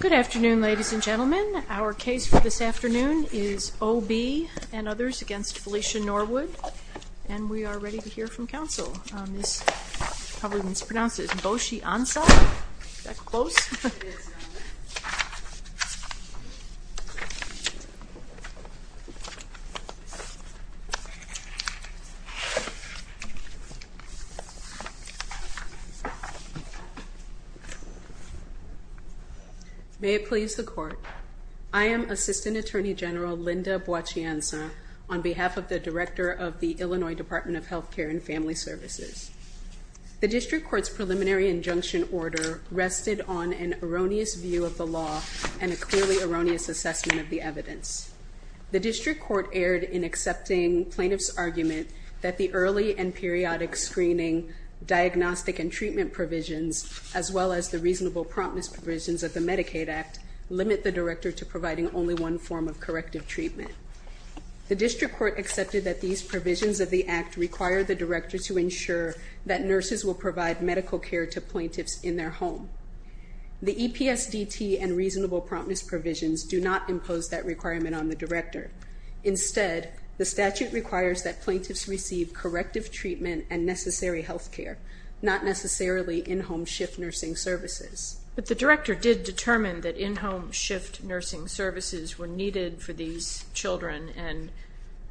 Good afternoon, ladies and gentlemen. Our case for this afternoon is O. B. v. Felicia Norwood, and we are ready to hear from counsel. This, probably mispronounced, is Bochy Ansah. Is that close? May it please the Court. I am Assistant Attorney General Linda Bochy Ansah, on behalf of the Director of the Illinois Department of Health Care and Family Services. The District Court's preliminary injunction order rested on an erroneous view of the law and a clearly erroneous assessment of the evidence. The District Court erred in accepting plaintiffs' argument that the early and periodic screening, diagnostic and treatment provisions, as well as the reasonable promptness provisions of the Medicaid Act, limit the Director to providing only one form of corrective treatment. The District Court accepted that these provisions of the Act require the Director to ensure that nurses will provide medical care to plaintiffs in their home. The EPSDT and reasonable promptness provisions do not impose that requirement on the Director. Instead, the statute requires that plaintiffs receive corrective treatment and necessary health care, not necessarily in-home shift nursing services. But the Director did determine that in-home shift nursing services were needed for these children and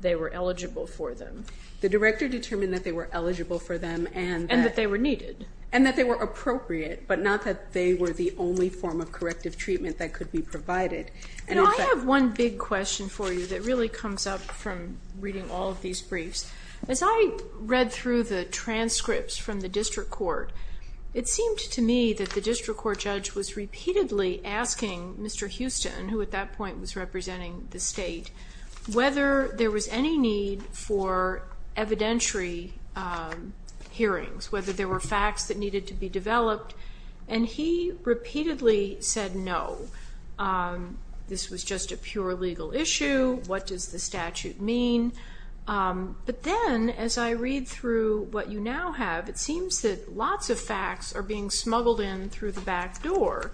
they were eligible for them. The Director determined that they were eligible for them and that they were needed. But not that they were the only form of corrective treatment that could be provided. Now, I have one big question for you that really comes up from reading all of these briefs. As I read through the transcripts from the District Court, it seemed to me that the District Court judge was repeatedly asking Mr. Houston, who at that point was representing the state, whether there was any need for evidentiary hearings, whether there were facts that needed to be developed. And he repeatedly said no. This was just a pure legal issue. What does the statute mean? But then, as I read through what you now have, it seems that lots of facts are being smuggled in through the back door.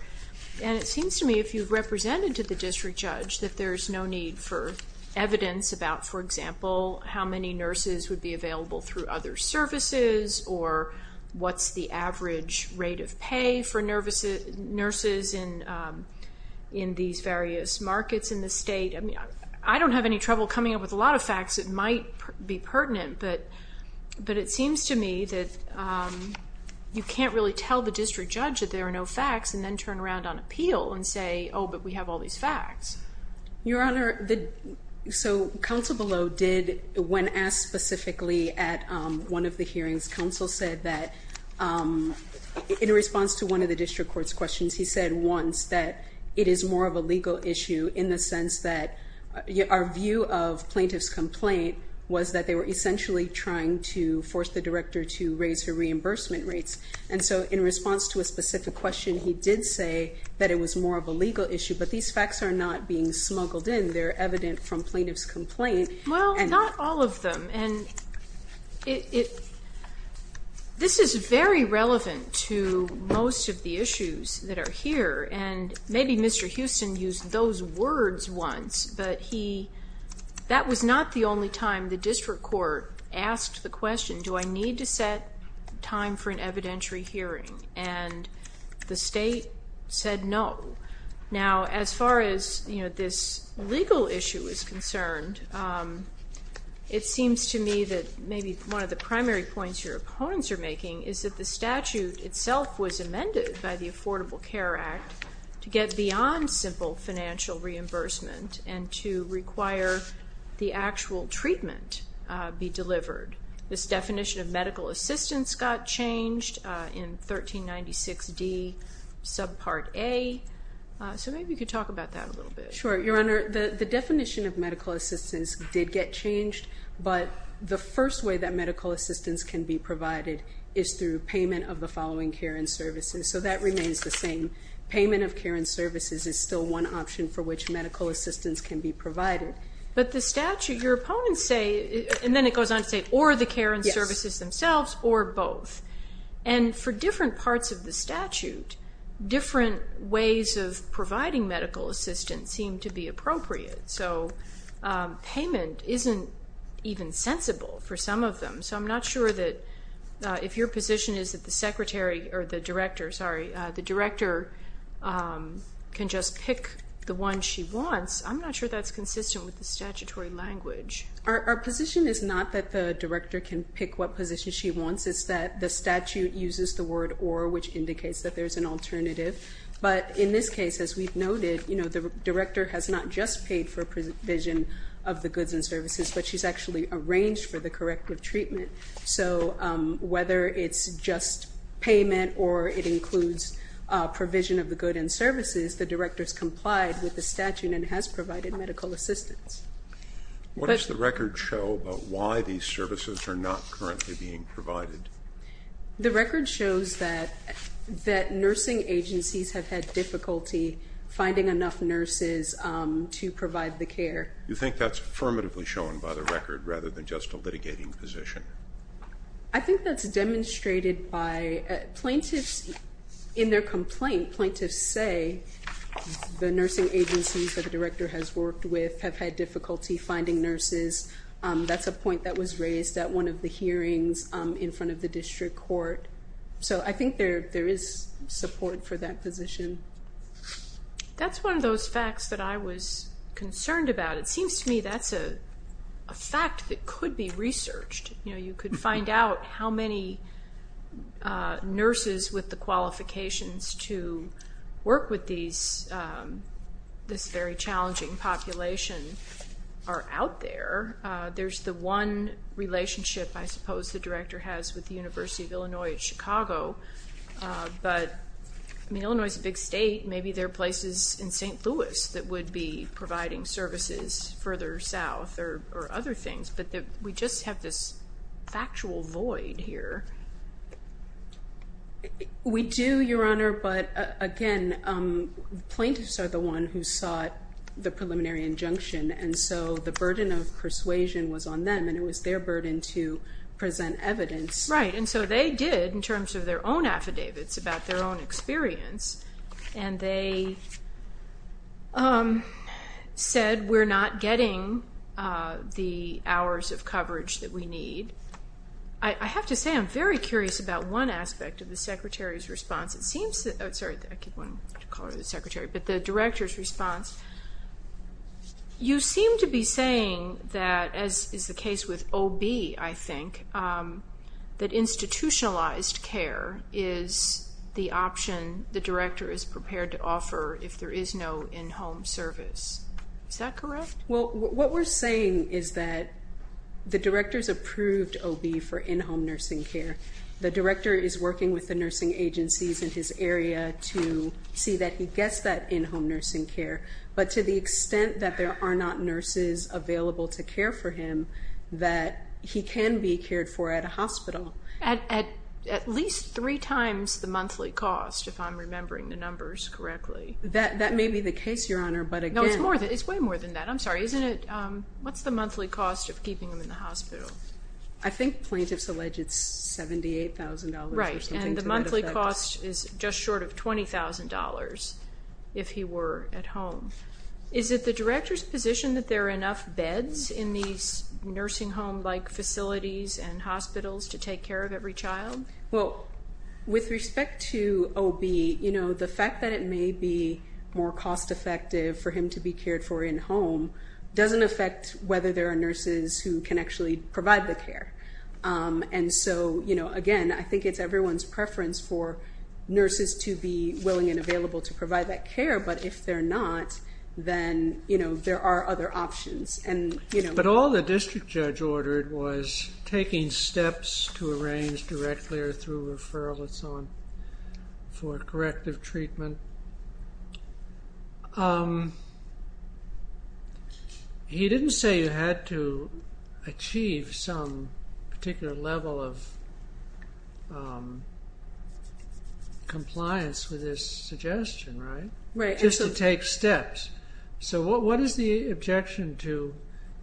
And it seems to me, if you've represented to the District Judge, that there's no need for evidence about, for example, how many nurses would be available through other services or what's the average rate of pay for nurses in these various markets in the state. I don't have any trouble coming up with a lot of facts that might be pertinent, but it seems to me that you can't really tell the District Judge that there are no facts and then turn around on appeal and say, oh, but we have all these facts. Your Honor, so Counsel Bellow did, when asked specifically at one of the hearings, Counsel said that in response to one of the District Court's questions, he said once that it is more of a legal issue in the sense that our view of plaintiff's complaint was that they were essentially trying to force the director to raise her reimbursement rates. And so in response to a specific question, he did say that it was more of a legal issue. But these facts are not being smuggled in. They're evident from plaintiff's complaint. Well, not all of them. And this is very relevant to most of the issues that are here. And maybe Mr. Houston used those words once, but that was not the only time the District Court asked the question, do I need to set time for an evidentiary hearing? And the State said no. Now, as far as, you know, this legal issue is concerned, it seems to me that maybe one of the primary points your opponents are making is that the statute itself was amended by the Affordable Care Act to get beyond simple financial reimbursement and to require the actual treatment be delivered. This definition of medical assistance got changed in 1396D subpart A. So maybe you could talk about that a little bit. Sure. Your Honor, the definition of medical assistance did get changed, but the first way that medical assistance can be provided is through payment of the following care and services. So that remains the same. Payment of care and services is still one option for which medical assistance can be provided. But the statute, your opponents say, and then it goes on to say or the care and services themselves or both. And for different parts of the statute, different ways of providing medical assistance seem to be appropriate. So payment isn't even sensible for some of them. So I'm not sure that if your position is that the secretary or the director, sorry, the director can just pick the one she wants, I'm not sure that's consistent with the statutory language. Our position is not that the director can pick what position she wants. It's that the statute uses the word or, which indicates that there's an alternative. But in this case, as we've noted, you know, the director has not just paid for provision of the goods and services, but she's actually arranged for the corrective treatment. So whether it's just payment or it includes provision of the goods and services, the director has complied with the statute and has provided medical assistance. What does the record show about why these services are not currently being provided? The record shows that nursing agencies have had difficulty finding enough nurses to provide the care. You think that's affirmatively shown by the record rather than just a litigating position? I think that's demonstrated by plaintiffs in their complaint. Plaintiffs say the nursing agencies that the director has worked with have had difficulty finding nurses. That's a point that was raised at one of the hearings in front of the district court. So I think there is support for that position. That's one of those facts that I was concerned about. It seems to me that's a fact that could be researched. You know, you could find out how many nurses with the qualifications to work with this very challenging population are out there. There's the one relationship, I suppose, the director has with the University of Illinois at Chicago. But, I mean, Illinois is a big state. Maybe there are places in St. Louis that would be providing services further south or other things. But we just have this factual void here. We do, Your Honor, but, again, plaintiffs are the one who sought the preliminary injunction. And so the burden of persuasion was on them, and it was their burden to present evidence. Right. And so they did in terms of their own affidavits about their own experience, and they said we're not getting the hours of coverage that we need. I have to say I'm very curious about one aspect of the secretary's response. Sorry, I keep wanting to call her the secretary, but the director's response. You seem to be saying that, as is the case with OB, I think, that institutionalized care is the option the director is prepared to offer if there is no in-home service. Is that correct? Well, what we're saying is that the director's approved OB for in-home nursing care. The director is working with the nursing agencies in his area to see that he gets that in-home nursing care. But to the extent that there are not nurses available to care for him, that he can be cared for at a hospital. At least three times the monthly cost, if I'm remembering the numbers correctly. That may be the case, Your Honor, but, again. No, it's way more than that. I'm sorry, isn't it? What's the monthly cost of keeping him in the hospital? I think plaintiffs allege it's $78,000 or something to that effect. Right, and the monthly cost is just short of $20,000 if he were at home. Is it the director's position that there are enough beds in these nursing home-like facilities and hospitals to take care of every child? Well, with respect to OB, the fact that it may be more cost-effective for him to be cared for in-home doesn't affect whether there are nurses who can actually provide the care. And so, again, I think it's everyone's preference for nurses to be willing and available to provide that care. But if they're not, then there are other options. But all the district judge ordered was taking steps to arrange directly or through referral for corrective treatment. And he didn't say you had to achieve some particular level of compliance with his suggestion, right? Right. Just to take steps. So what is the objection to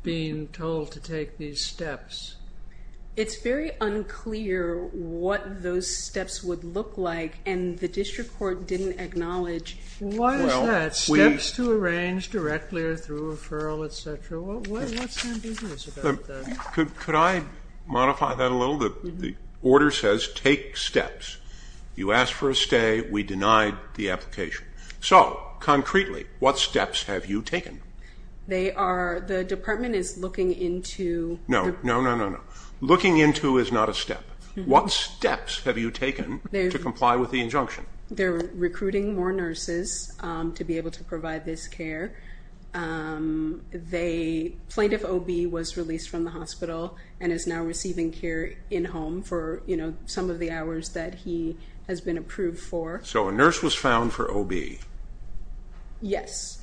being told to take these steps? It's very unclear what those steps would look like, and the district court didn't acknowledge. Why is that? Steps to arrange directly or through referral, et cetera? What's ambiguous about that? Could I modify that a little? The order says take steps. You asked for a stay. So, concretely, what steps have you taken? The department is looking into- No, no, no, no, no. Looking into is not a step. What steps have you taken to comply with the injunction? They're recruiting more nurses to be able to provide this care. Plaintiff OB was released from the hospital and is now receiving care in-home for some of the hours that he has been approved for. So a nurse was found for OB? Yes.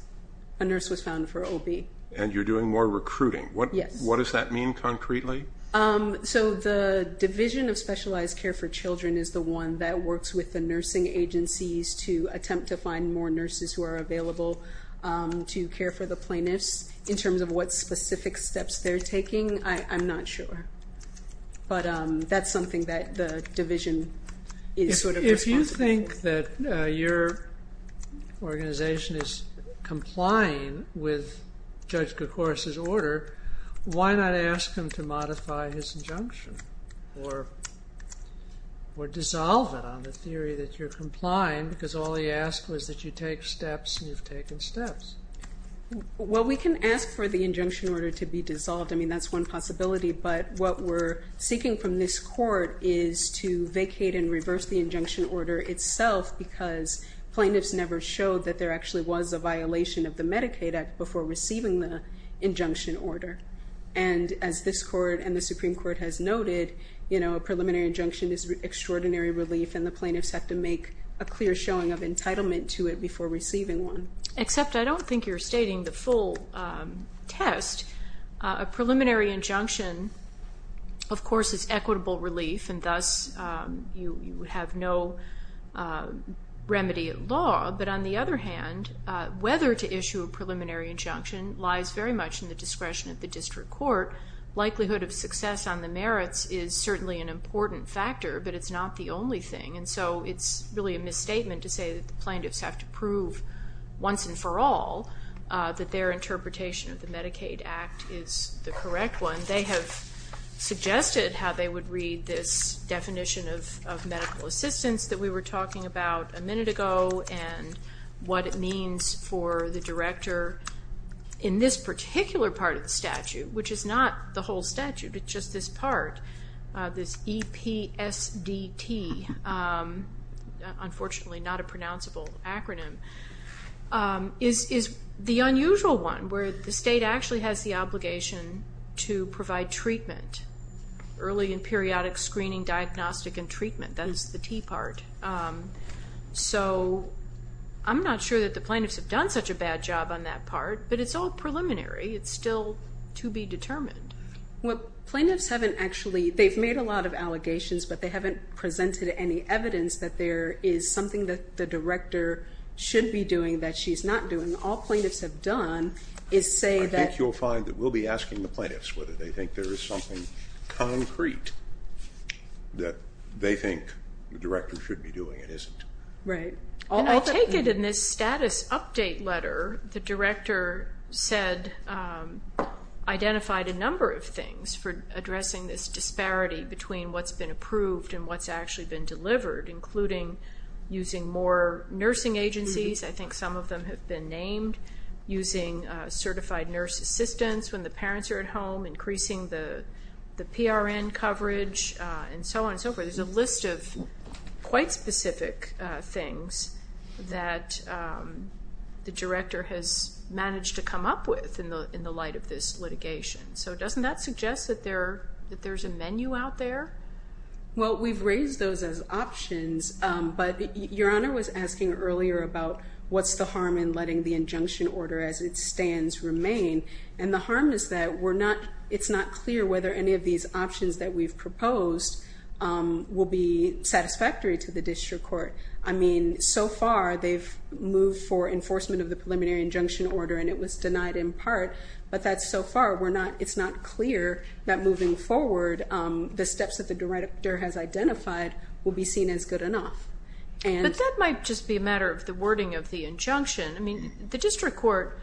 A nurse was found for OB. And you're doing more recruiting? Yes. What does that mean concretely? So the Division of Specialized Care for Children is the one that works with the nursing agencies to attempt to find more nurses who are available to care for the plaintiffs. In terms of what specific steps they're taking, I'm not sure. But that's something that the division is sort of responsible for. If you think that your organization is complying with Judge Koukouros' order, why not ask him to modify his injunction or dissolve it on the theory that you're complying because all he asked was that you take steps and you've taken steps? Well, we can ask for the injunction order to be dissolved. I mean, that's one possibility. But what we're seeking from this court is to vacate and reverse the injunction order itself because plaintiffs never showed that there actually was a violation of the Medicaid Act before receiving the injunction order. And as this court and the Supreme Court has noted, a preliminary injunction is extraordinary relief and the plaintiffs have to make a clear showing of entitlement to it before receiving one. Except I don't think you're stating the full test. A preliminary injunction, of course, is equitable relief, and thus you have no remedy at law. But on the other hand, whether to issue a preliminary injunction lies very much in the discretion of the district court. Likelihood of success on the merits is certainly an important factor, but it's not the only thing. And so it's really a misstatement to say that the plaintiffs have to prove once and for all that their interpretation of the Medicaid Act is the correct one. They have suggested how they would read this definition of medical assistance that we were talking about a minute ago and what it means for the director in this particular part of the statute, which is not the whole statute, it's just this part, this EPSDT, unfortunately not a pronounceable acronym, is the unusual one where the state actually has the obligation to provide treatment, early and periodic screening, diagnostic and treatment. That is the T part. So I'm not sure that the plaintiffs have done such a bad job on that part, but it's all preliminary. It's still to be determined. Well, plaintiffs haven't actually, they've made a lot of allegations, but they haven't presented any evidence that there is something that the director should be doing that she's not doing. All plaintiffs have done is say that. I think you'll find that we'll be asking the plaintiffs whether they think there is something concrete that they think the director should be doing and isn't. Right. And I take it in this status update letter the director said, identified a number of things for addressing this disparity between what's been approved and what's actually been delivered, including using more nursing agencies. I think some of them have been named, using certified nurse assistants when the parents are at home, increasing the PRN coverage, and so on and so forth. There's a list of quite specific things that the director has managed to come up with in the light of this litigation. So doesn't that suggest that there's a menu out there? Well, we've raised those as options, but Your Honor was asking earlier about what's the harm in letting the injunction order as it stands remain, and the harm is that it's not clear whether any of these options that we've proposed will be satisfactory to the district court. I mean, so far they've moved for enforcement of the preliminary injunction order, and it was denied in part, but so far it's not clear that moving forward the steps that the director has identified will be seen as good enough. But that might just be a matter of the wording of the injunction. I mean, the district court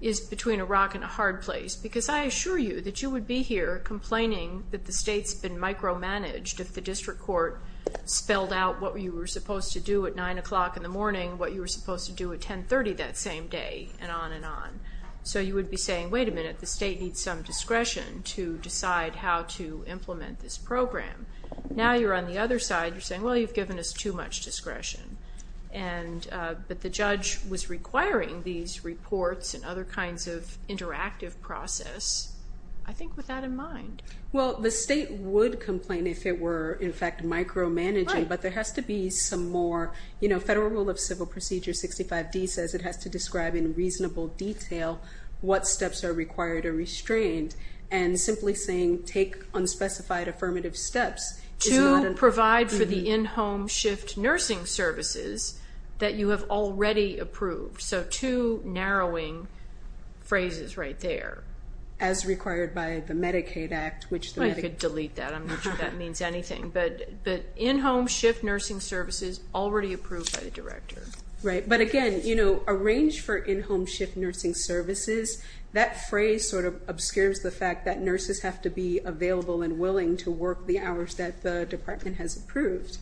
is between a rock and a hard place, because I assure you that you would be here complaining that the state's been micromanaged if the district court spelled out what you were supposed to do at 9 o'clock in the morning, what you were supposed to do at 10.30 that same day, and on and on. So you would be saying, wait a minute, the state needs some discretion to decide how to implement this program. Now you're on the other side, you're saying, well, you've given us too much discretion. But the judge was requiring these reports and other kinds of interactive process, I think, with that in mind. Well, the state would complain if it were, in fact, micromanaging, but there has to be some more. Federal Rule of Civil Procedure 65D says it has to describe in reasonable detail what steps are required or restrained. And simply saying, take unspecified affirmative steps is not enough. To provide for the in-home shift nursing services that you have already approved. So two narrowing phrases right there. As required by the Medicaid Act. I could delete that, I'm not sure that means anything. But in-home shift nursing services already approved by the director. Right, but again, arrange for in-home shift nursing services. That phrase sort of obscures the fact that nurses have to be available and willing to work the hours that the department has approved.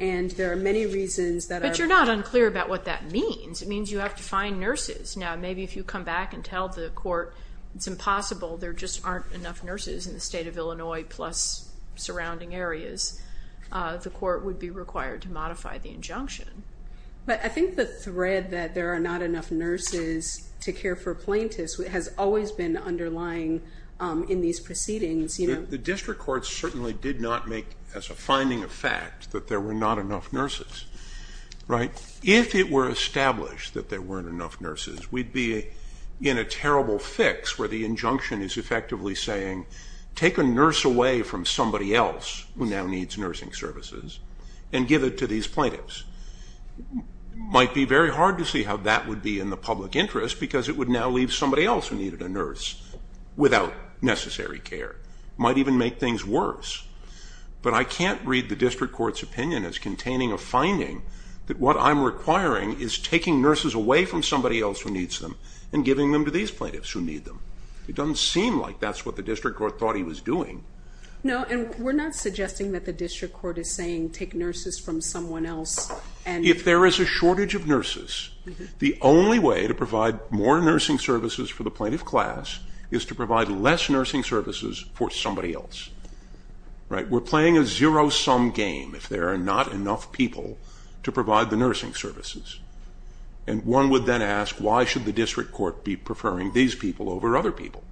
And there are many reasons that are... But you're not unclear about what that means. It means you have to find nurses. Now maybe if you come back and tell the court it's impossible, there just aren't enough nurses in the state of Illinois, plus surrounding areas. The court would be required to modify the injunction. But I think the thread that there are not enough nurses to care for plaintiffs has always been underlying in these proceedings. The district court certainly did not make, as a finding of fact, that there were not enough nurses. If it were established that there weren't enough nurses, we'd be in a terrible fix where the injunction is effectively saying, take a nurse away from somebody else who now needs nursing services and give it to these plaintiffs. Might be very hard to see how that would be in the public interest because it would now leave somebody else who needed a nurse without necessary care. Might even make things worse. But I can't read the district court's opinion as containing a finding that what I'm requiring is taking nurses away from somebody else who needs them and giving them to these plaintiffs who need them. It doesn't seem like that's what the district court thought he was doing. No, and we're not suggesting that the district court is saying take nurses from someone else. If there is a shortage of nurses, the only way to provide more nursing services for the plaintiff class is to provide less nursing services for somebody else. We're playing a zero-sum game if there are not enough people to provide the nursing services. And one would then ask, why should the district court be preferring these people over other people?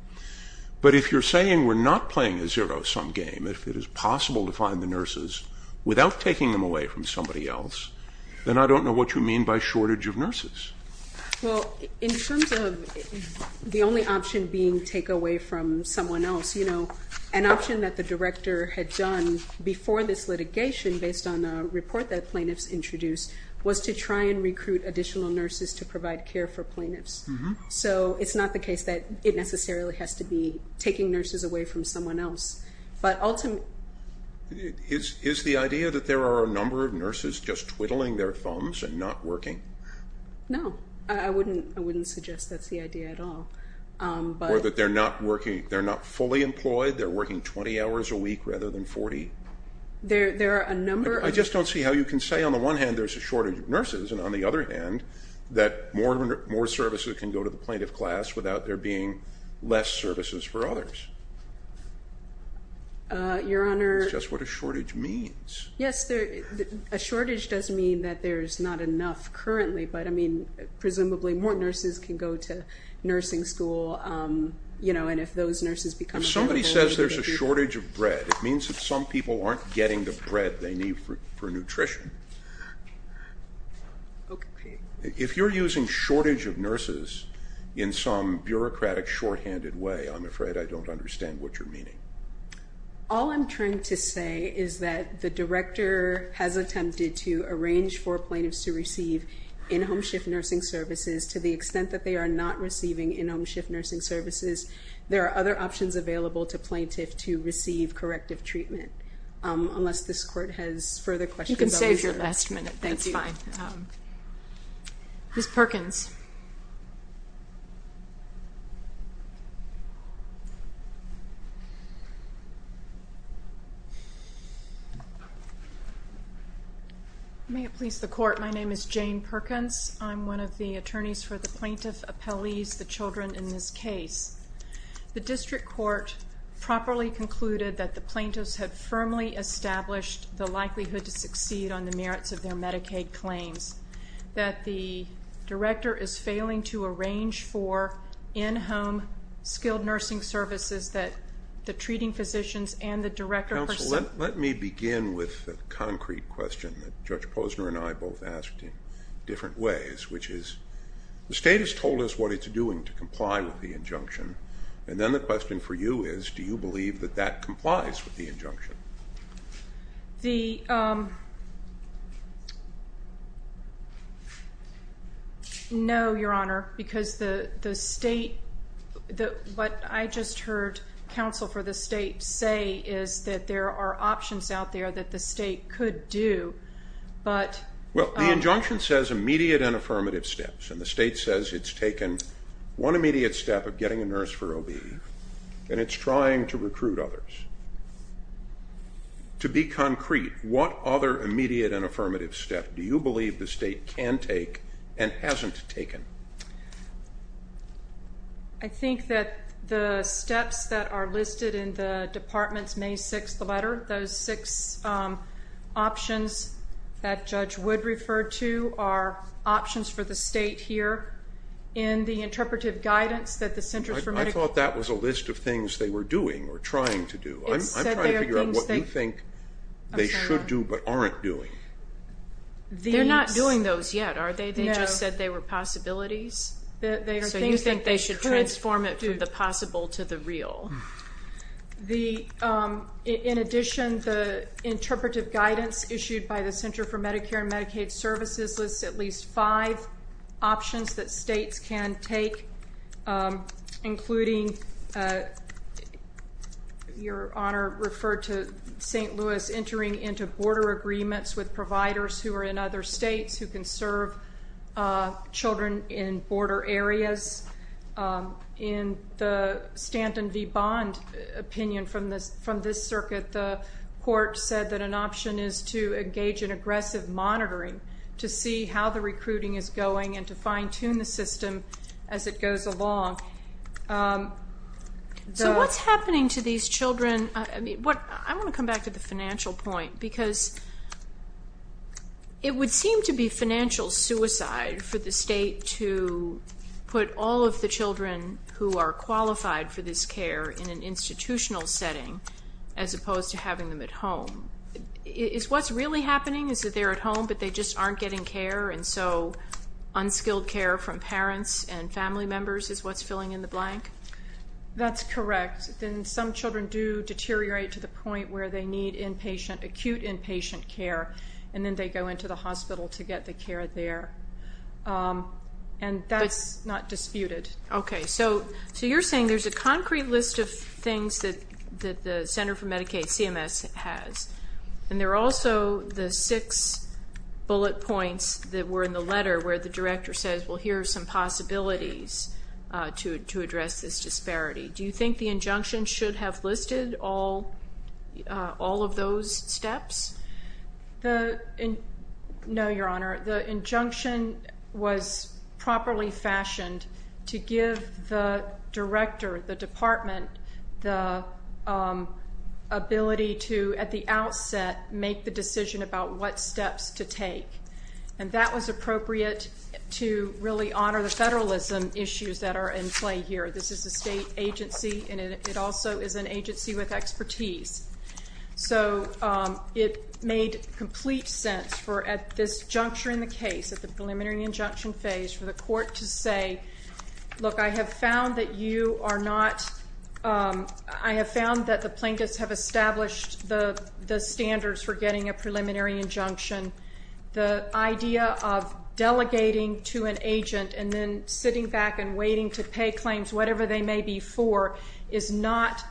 But if you're saying we're not playing a zero-sum game, if it is possible to find the nurses without taking them away from somebody else, then I don't know what you mean by shortage of nurses. Well, in terms of the only option being take away from someone else, you know, an option that the director had done before this litigation, based on a report that plaintiffs introduced, was to try and recruit additional nurses to provide care for plaintiffs. So it's not the case that it necessarily has to be taking nurses away from someone else, but ultimately... Is the idea that there are a number of nurses just twiddling their thumbs and not working? No, I wouldn't suggest that's the idea at all. Or that they're not fully employed, they're working 20 hours a week rather than 40? There are a number of... I just don't see how you can say on the one hand there's a shortage of nurses, and on the other hand, that more services can go to the plaintiff class without there being less services for others. Your Honor... That's just what a shortage means. Yes, a shortage does mean that there's not enough currently, but I mean, presumably more nurses can go to nursing school, you know, and if those nurses become available... If somebody says there's a shortage of bread, it means that some people aren't getting the bread they need for nutrition. If you're using shortage of nurses in some bureaucratic, shorthanded way, I'm afraid I don't understand what you're meaning. All I'm trying to say is that the Director has attempted to arrange for plaintiffs to receive in-home shift nursing services. To the extent that they are not receiving in-home shift nursing services, there are other options available to plaintiffs to receive corrective treatment. Unless this Court has further questions... You can save your last minute, that's fine. Ms. Perkins. Thank you. May it please the Court, my name is Jane Perkins. I'm one of the attorneys for the plaintiff appellees, the children in this case. The District Court properly concluded that the plaintiffs had firmly established the likelihood to succeed on the merits of their Medicaid claims, that the Director is failing to arrange for in-home skilled nursing services that the treating physicians and the Director... Counsel, let me begin with a concrete question that Judge Posner and I both asked in different ways, which is, the State has told us what it's doing to comply with the injunction, and then the question for you is, do you believe that that complies with the injunction? No, Your Honor, because the State... What I just heard counsel for the State say is that there are options out there that the State could do, but... Well, the injunction says immediate and affirmative steps, and the State says it's taken one immediate step of getting a nurse for OB, and it's trying to recruit others. To be concrete, what other immediate and affirmative step do you believe the State can take and hasn't taken? I think that the steps that are listed in the Department's May 6th letter, those six options that Judge Wood referred to are options for the State here in the interpretive guidance that the Centers for Medicaid... I thought that was a list of things they were doing or trying to do. I'm trying to figure out what you think they should do but aren't doing. They're not doing those yet, are they? They just said they were possibilities. So you think they should transform it from the possible to the real. In addition, the interpretive guidance issued by the Centers for Medicare and Medicaid Services lists at least five options that States can take, including... Your Honor referred to St. Louis entering into border agreements with providers who are in other states who can serve children in border areas. In the Stanton v. Bond opinion from this circuit, the court said that an option is to engage in aggressive monitoring to see how the recruiting is going and to fine-tune the system as it goes along. So what's happening to these children? I want to come back to the financial point because it would seem to be financial suicide for the State to put all of the children who are qualified for this care in an institutional setting as opposed to having them at home. Is what's really happening is that they're at home but they just aren't getting care and so unskilled care from parents and family members is what's filling in the blank? That's correct. Then some children do deteriorate to the point where they need acute inpatient care and then they go into the hospital to get the care there. And that's not disputed. Okay, so you're saying there's a concrete list of things that the Center for Medicaid CMS has and there are also the six bullet points that were in the letter where the director says, well, here are some possibilities to address this disparity. Do you think the injunction should have listed all of those steps? No, Your Honor. The injunction was properly fashioned to give the director, the department, the ability to, at the outset, make the decision about what steps to take. And that was appropriate to really honor the federalism issues that are in play here. This is a state agency and it also is an agency with expertise. So it made complete sense for at this juncture in the case, at the preliminary injunction phase, for the court to say, look, I have found that you are not, I have found that the plaintiffs have established the standards for getting a preliminary injunction. The idea of delegating to an agent and then sitting back and waiting to pay claims, whatever they may be for, is not,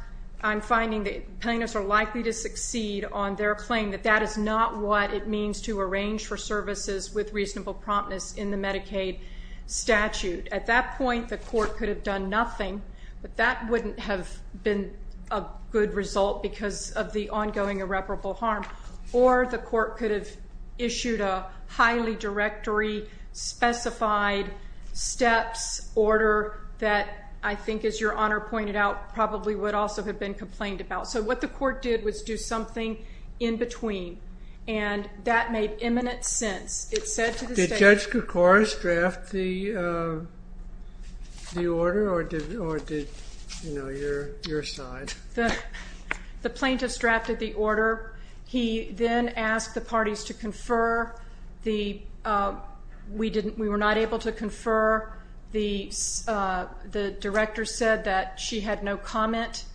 I'm finding the plaintiffs are likely to succeed on their claim that that is not what it means to arrange for services with reasonable promptness in the Medicaid statute. At that point, the court could have done nothing, but that wouldn't have been a good result because of the ongoing irreparable harm. Or the court could have issued a highly directory specified steps order that, I think as your Honor pointed out, probably would also have been complained about. So what the court did was do something in between. And that made imminent sense. It said to the state... Did Judge Koukouras draft the order or did, you know, your side? The plaintiffs drafted the order. He then asked the parties to confer. We were not able to confer. The director said that she had no comment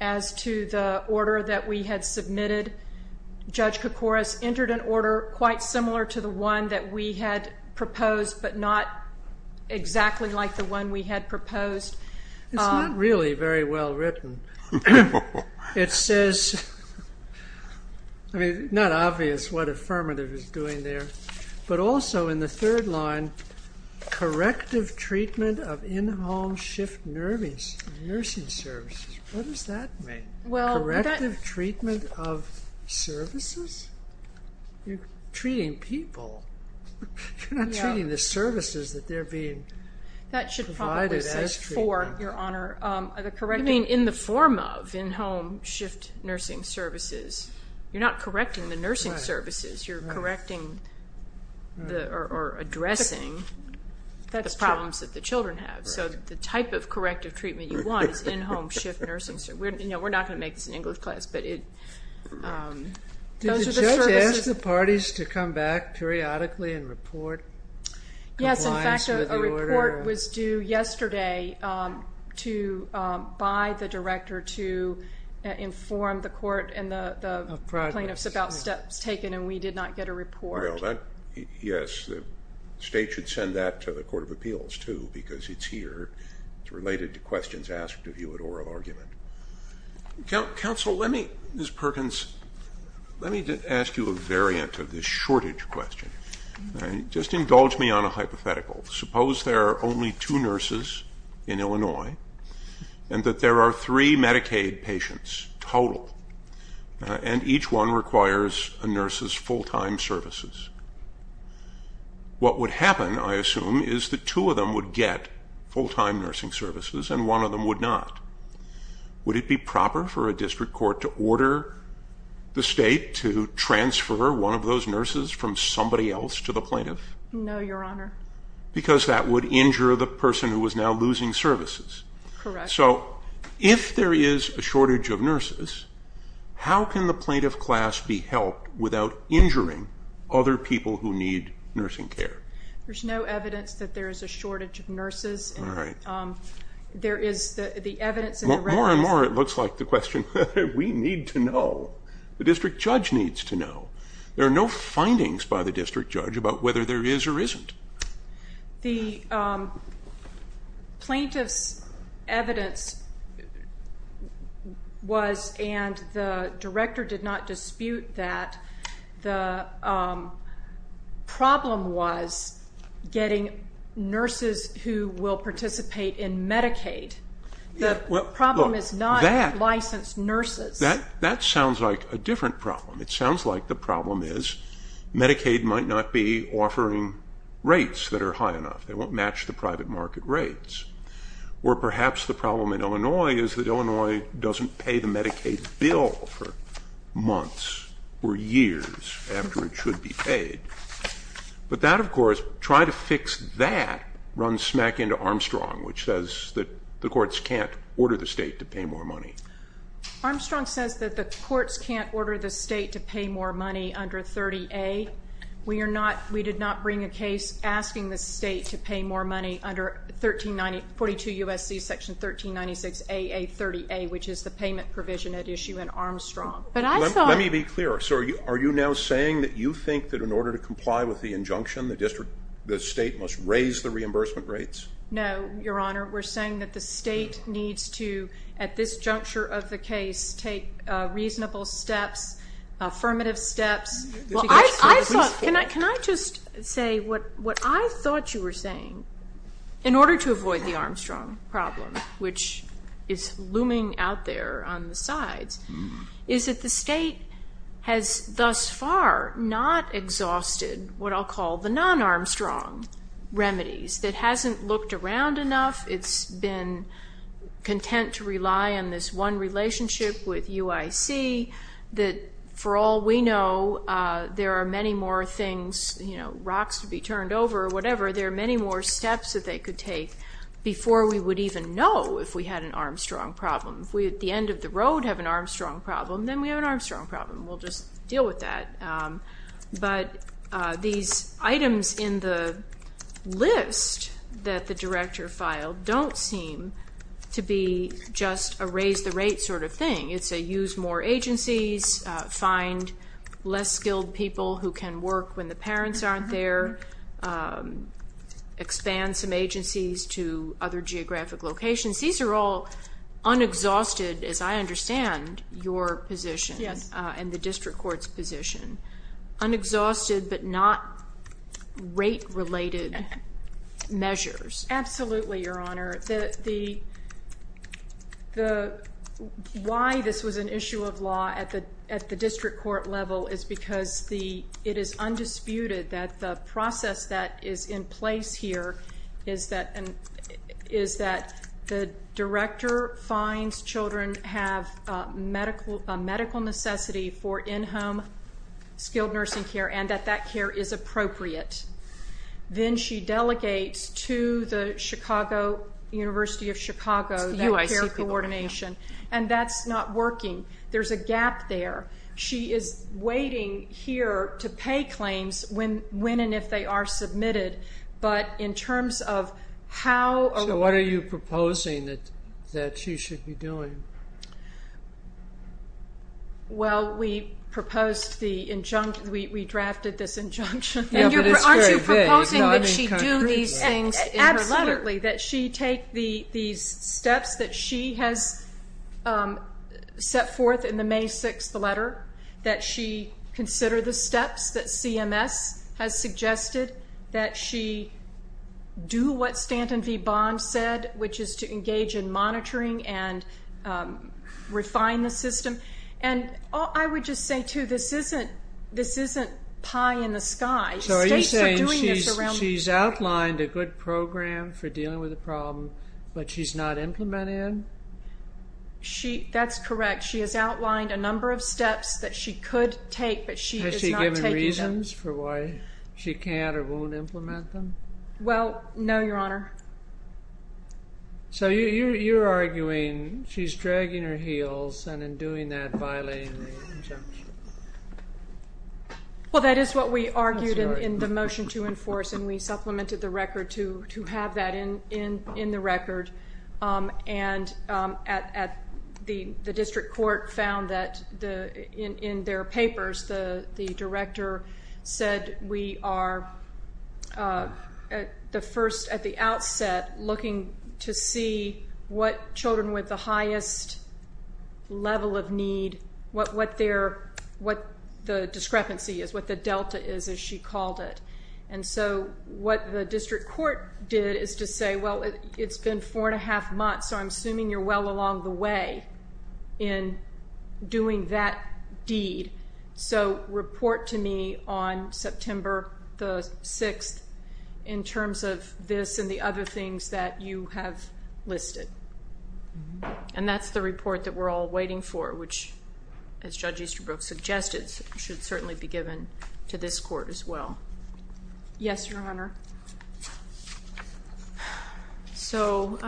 as to the order that we had submitted. Judge Koukouras entered an order quite similar to the one that we had proposed, but not exactly like the one we had proposed. It's not really very well written. It says... I mean, it's not obvious what affirmative is doing there. But also in the third line, corrective treatment of in-home shift nursing services. What does that mean? Corrective treatment of services? You're treating people. You're not treating the services that they're being provided as treatment. You mean in the form of in-home shift nursing services. You're not correcting the nursing services. You're correcting or addressing the problems that the children have. So the type of corrective treatment you want is in-home shift nursing services. We're not going to make this an English class, but those are the services. Did you ask the parties to come back periodically and report compliance with the order? Yes, in fact, a report was due yesterday by the director to inform the court and the plaintiffs about steps taken, and we did not get a report. Yes, the state should send that to the Court of Appeals, too, because it's here. It's related to questions asked of you at oral argument. Counsel, Ms. Perkins, let me ask you a variant of this shortage question. Just indulge me on a hypothetical. Suppose there are only two nurses in Illinois and that there are three Medicaid patients total, and each one requires a nurse's full-time services. What would happen, I assume, is that two of them would get full-time nursing services and one of them would not. Would it be proper for a district court to order the state to transfer one of those nurses from somebody else to the plaintiff? No, Your Honor. Because that would injure the person who was now losing services. Correct. So if there is a shortage of nurses, how can the plaintiff class be helped without injuring other people who need nursing care? There's no evidence that there is a shortage of nurses. All right. More and more it looks like the question, we need to know. The district judge needs to know. There are no findings by the district judge about whether there is or isn't. The plaintiff's evidence was, and the director did not dispute that, the problem was getting nurses who will participate in Medicaid. The problem is not licensed nurses. That sounds like a different problem. It sounds like the problem is Medicaid might not be offering rates that are high enough. They won't match the private market rates. Or perhaps the problem in Illinois is that Illinois doesn't pay the Medicaid bill for months or years after it should be paid. But that, of course, try to fix that runs smack into Armstrong, which says that the courts can't order the state to pay more money. Armstrong says that the courts can't order the state to pay more money under 30A. We did not bring a case asking the state to pay more money under 42 U.S.C. section 1396AA30A, which is the payment provision at issue in Armstrong. Let me be clear. Are you now saying that you think that in order to comply with the injunction, the state must raise the reimbursement rates? No, Your Honor. We're saying that the state needs to, at this juncture of the case, take reasonable steps, affirmative steps. Can I just say what I thought you were saying, in order to avoid the Armstrong problem, which is looming out there on the sides, is that the state has thus far not exhausted what I'll call the non-Armstrong remedies. It hasn't looked around enough. It's been content to rely on this one relationship with UIC that, for all we know, there are many more things, you know, rocks to be turned over or whatever. There are many more steps that they could take before we would even know if we had an Armstrong problem. If we at the end of the road have an Armstrong problem, then we have an Armstrong problem. We'll just deal with that. But these items in the list that the director filed don't seem to be just a raise the rate sort of thing. It's a use more agencies, find less skilled people who can work when the parents aren't there, expand some agencies to other geographic locations. These are all unexhausted, as I understand, your position and the district court's position. Unexhausted but not rate-related measures. Absolutely, Your Honor. Why this was an issue of law at the district court level is because it is undisputed that the process that is in place here is that the director finds children have a medical necessity for in-home skilled nursing care and that that care is appropriate. Then she delegates to the University of Chicago that care coordination, and that's not working. There's a gap there. She is waiting here to pay claims when and if they are submitted. But in terms of how... So what are you proposing that she should be doing? Well, we proposed the injunction. We drafted this injunction. Aren't you proposing that she do these things in her letter? Absolutely, that she take these steps that she has set forth in the May 6th letter, that she consider the steps that CMS has suggested, that she do what Stanton v. Bond said, which is to engage in monitoring and refine the system. And I would just say, too, this isn't pie in the sky. So are you saying she's outlined a good program for dealing with the problem, but she's not implementing it? That's correct. She has outlined a number of steps that she could take, but she is not taking them. Has she given reasons for why she can't or won't implement them? Well, no, Your Honor. So you're arguing she's dragging her heels and in doing that violating the injunction. Well, that is what we argued in the motion to enforce, and we supplemented the record to have that in the record. And the district court found that in their papers the director said we are, at the outset, looking to see what children with the highest level of need, what the discrepancy is, what the delta is, as she called it. And so what the district court did is to say, well, it's been four and a half months, so I'm assuming you're well along the way in doing that deed. So report to me on September the 6th in terms of this and the other things that you have listed. And that's the report that we're all waiting for, which, as Judge Easterbrook suggested, should certainly be given to this court as well. Yes, Your Honor. So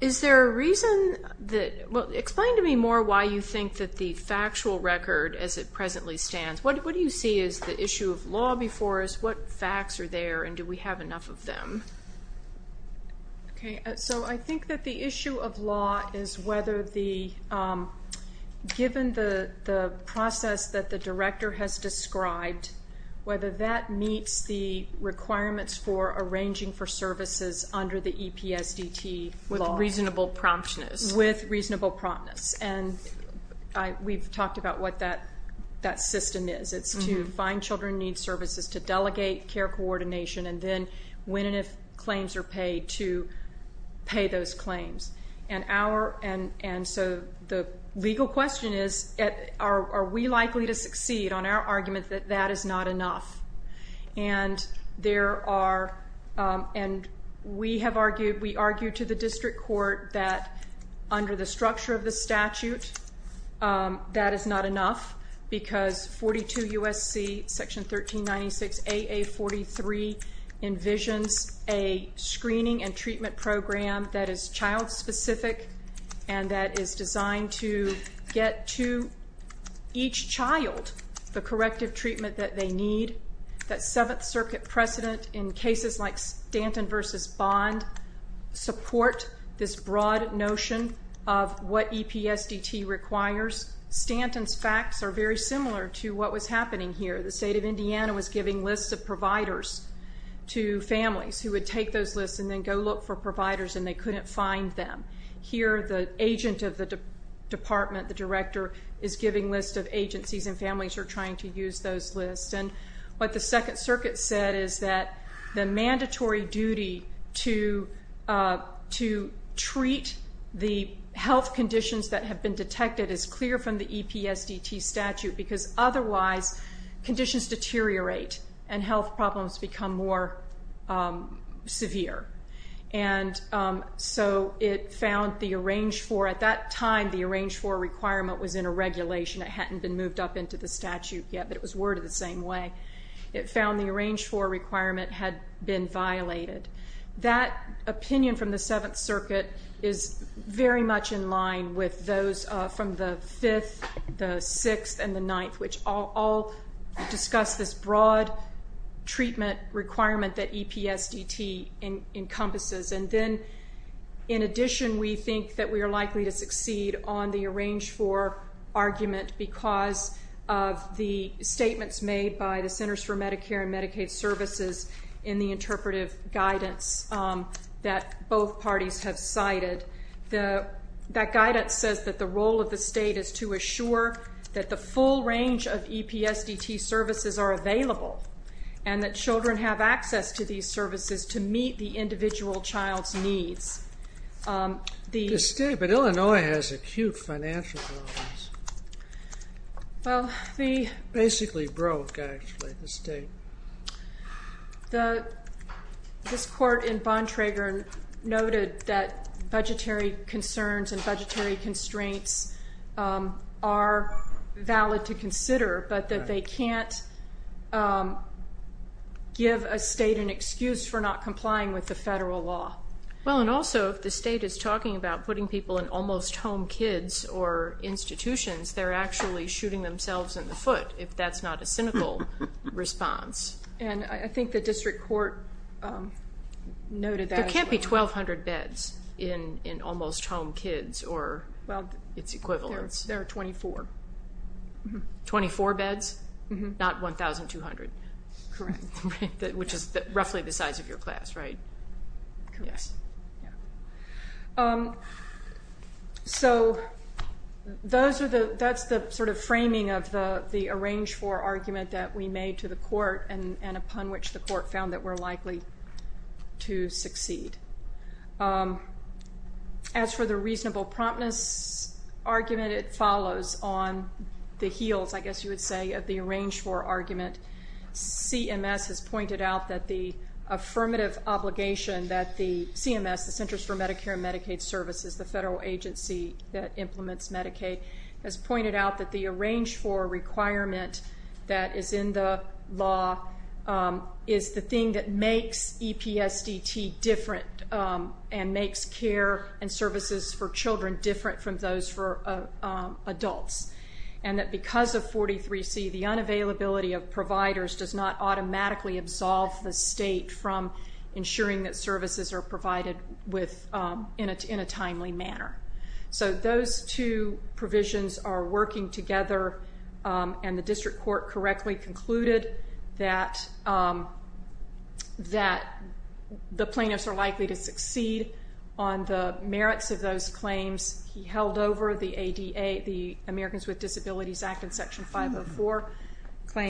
is there a reason that ‑‑ well, explain to me more why you think that the factual record, as it presently stands, what do you see as the issue of law before us? What facts are there, and do we have enough of them? Okay. So I think that the issue of law is whether the ‑‑ given the process that the director has described, whether that meets the requirements for arranging for services under the EPSDT law. With reasonable promptness. With reasonable promptness. And we've talked about what that system is. It's to find children in need services, to delegate care coordination, and then when and if claims are paid, to pay those claims. And so the legal question is, are we likely to succeed on our argument that that is not enough? And there are ‑‑ and we have argued, we argue to the district court that under the structure of the statute, that is not enough because 42 U.S.C. section 1396 AA43 envisions a screening and treatment program that is child specific and that is designed to get to each child the corrective treatment that they need, that Seventh Circuit precedent in cases like Stanton v. Bond support this broad notion of what EPSDT requires. Stanton's facts are very similar to what was happening here. The state of Indiana was giving lists of providers to families who would take those lists and then go look for providers and they couldn't find them. Here the agent of the department, the director, is giving lists of agencies and families are trying to use those lists. And what the Second Circuit said is that the mandatory duty to treat the health conditions that have been detected is clear from the EPSDT statute because otherwise conditions deteriorate and health problems become more severe. And so it found the arrange for ‑‑ at that time the arrange for requirement was in a regulation. It hadn't been moved up into the statute yet but it was worded the same way. It found the arrange for requirement had been violated. That opinion from the Seventh Circuit is very much in line with those from the 5th, the 6th, and the 9th, which all discuss this broad treatment requirement that EPSDT encompasses. And then in addition we think that we are likely to succeed on the arrange for argument because of the statements made by the Centers for Medicare and Medicaid Services in the interpretive guidance that both parties have cited. That guidance says that the role of the state is to assure that the full range of EPSDT services are available and that children have access to these services to meet the individual child's needs. The state, but Illinois has acute financial problems. Well, the ‑‑ Basically broke, actually, the state. This court in Bontrager noted that budgetary concerns and budgetary constraints are valid to consider but that they can't give a state an excuse for not complying with the federal law. Well, and also if the state is talking about putting people in almost home kids or institutions, they're actually shooting themselves in the foot if that's not a cynical response. And I think the district court noted that as well. There can't be 1,200 beds in almost home kids or its equivalents. There are 24. 24 beds, not 1,200. Correct. Which is roughly the size of your class, right? Correct. So that's the sort of framing of the arrange for argument that we made to the court and upon which the court found that we're likely to succeed. As for the reasonable promptness argument, it follows on the heels, I guess you would say, of the arrange for argument. CMS has pointed out that the affirmative obligation that the CMS, the Centers for Medicare and Medicaid Services, the federal agency that implements Medicaid, has pointed out that the arrange for requirement that is in the law is the thing that makes EPSDT different and makes care and services for children different from those for adults. And that because of 43C, the unavailability of providers does not automatically absolve the state from ensuring that services are provided in a timely manner. So those two provisions are working together, and the district court correctly concluded that the plaintiffs are likely to succeed on the merits of those claims he held over the ADA, the Americans with Disabilities Act in Section 504.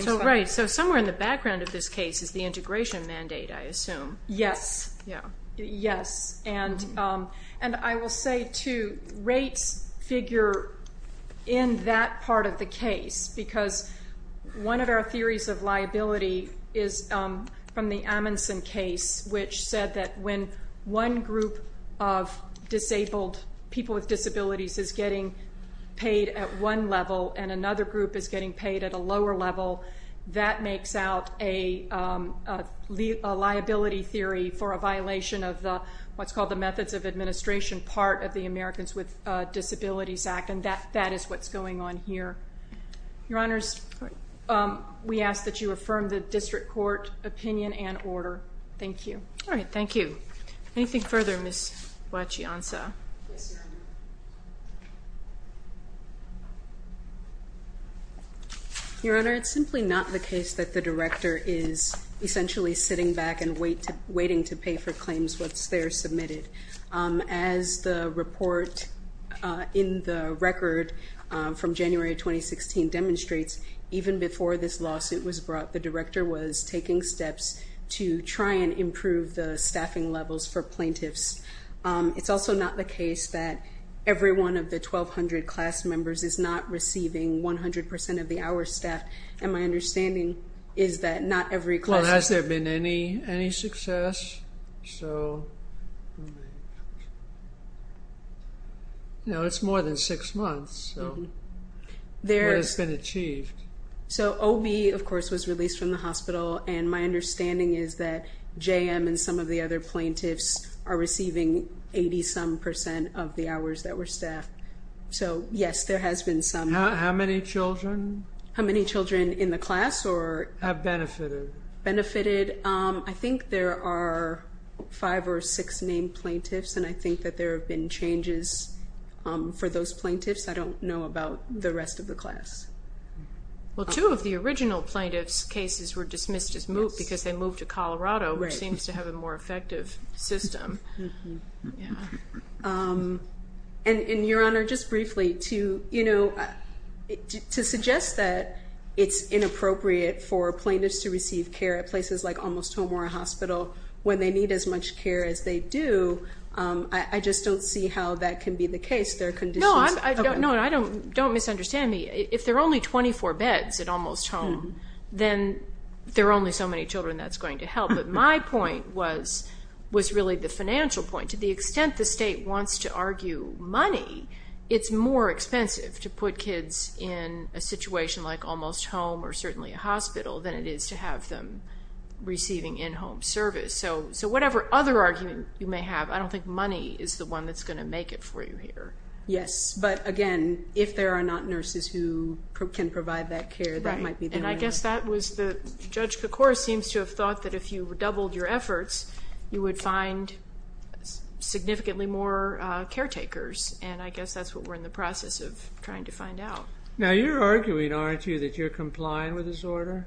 So somewhere in the background of this case is the integration mandate, I assume. Yes. Yeah. Because one of our theories of liability is from the Amundsen case, which said that when one group of disabled people with disabilities is getting paid at one level and another group is getting paid at a lower level, that makes out a liability theory for a violation of what's called the methods of administration part of the Americans with Disabilities Act, and that is what's going on here. Your Honors, we ask that you affirm the district court opinion and order. Thank you. All right. Thank you. Anything further, Ms. Wachiansa? Yes, Your Honor. Your Honor, it's simply not the case that the director is essentially sitting back and waiting to pay for claims once they're submitted. As the report in the record from January of 2016 demonstrates, even before this lawsuit was brought, the director was taking steps to try and improve the staffing levels for plaintiffs. It's also not the case that every one of the 1,200 class members is not receiving 100 percent of the hour staff, and my understanding is that not every class member— Well, has there been any success? So, you know, it's more than six months, so what has been achieved? So, OB, of course, was released from the hospital, and my understanding is that JM and some of the other plaintiffs are receiving 80-some percent of the hours that were staffed. So, yes, there has been some— How many children? How many children in the class or— Have benefited? Benefited. I think there are five or six named plaintiffs, and I think that there have been changes for those plaintiffs. I don't know about the rest of the class. Well, two of the original plaintiffs' cases were dismissed because they moved to Colorado, which seems to have a more effective system. And, Your Honor, just briefly, to suggest that it's inappropriate for plaintiffs to receive care at places like Almost Home or a hospital when they need as much care as they do, I just don't see how that can be the case. There are conditions— No, don't misunderstand me. If there are only 24 beds at Almost Home, then there are only so many children that's going to help. But my point was really the financial point. To the extent the state wants to argue money, it's more expensive to put kids in a situation like Almost Home or certainly a hospital than it is to have them receiving in-home service. So whatever other argument you may have, I don't think money is the one that's going to make it for you here. Yes, but, again, if there are not nurses who can provide that care, that might be the one. I guess that was the—Judge Kocouris seems to have thought that if you doubled your efforts, you would find significantly more caretakers. And I guess that's what we're in the process of trying to find out. Now, you're arguing, aren't you, that you're complying with this order?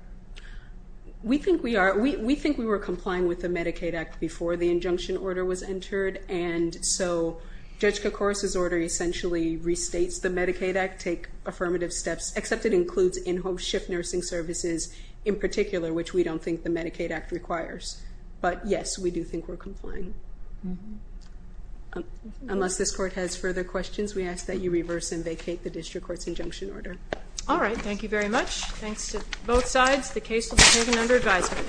We think we are. We think we were complying with the Medicaid Act before the injunction order was entered. And so Judge Kocouris's order essentially restates the Medicaid Act, take affirmative steps, except it includes in-home shift nursing services in particular, which we don't think the Medicaid Act requires. But, yes, we do think we're complying. Unless this Court has further questions, we ask that you reverse and vacate the district court's injunction order. All right. Thank you very much. Thanks to both sides. The case will be taken under advisement.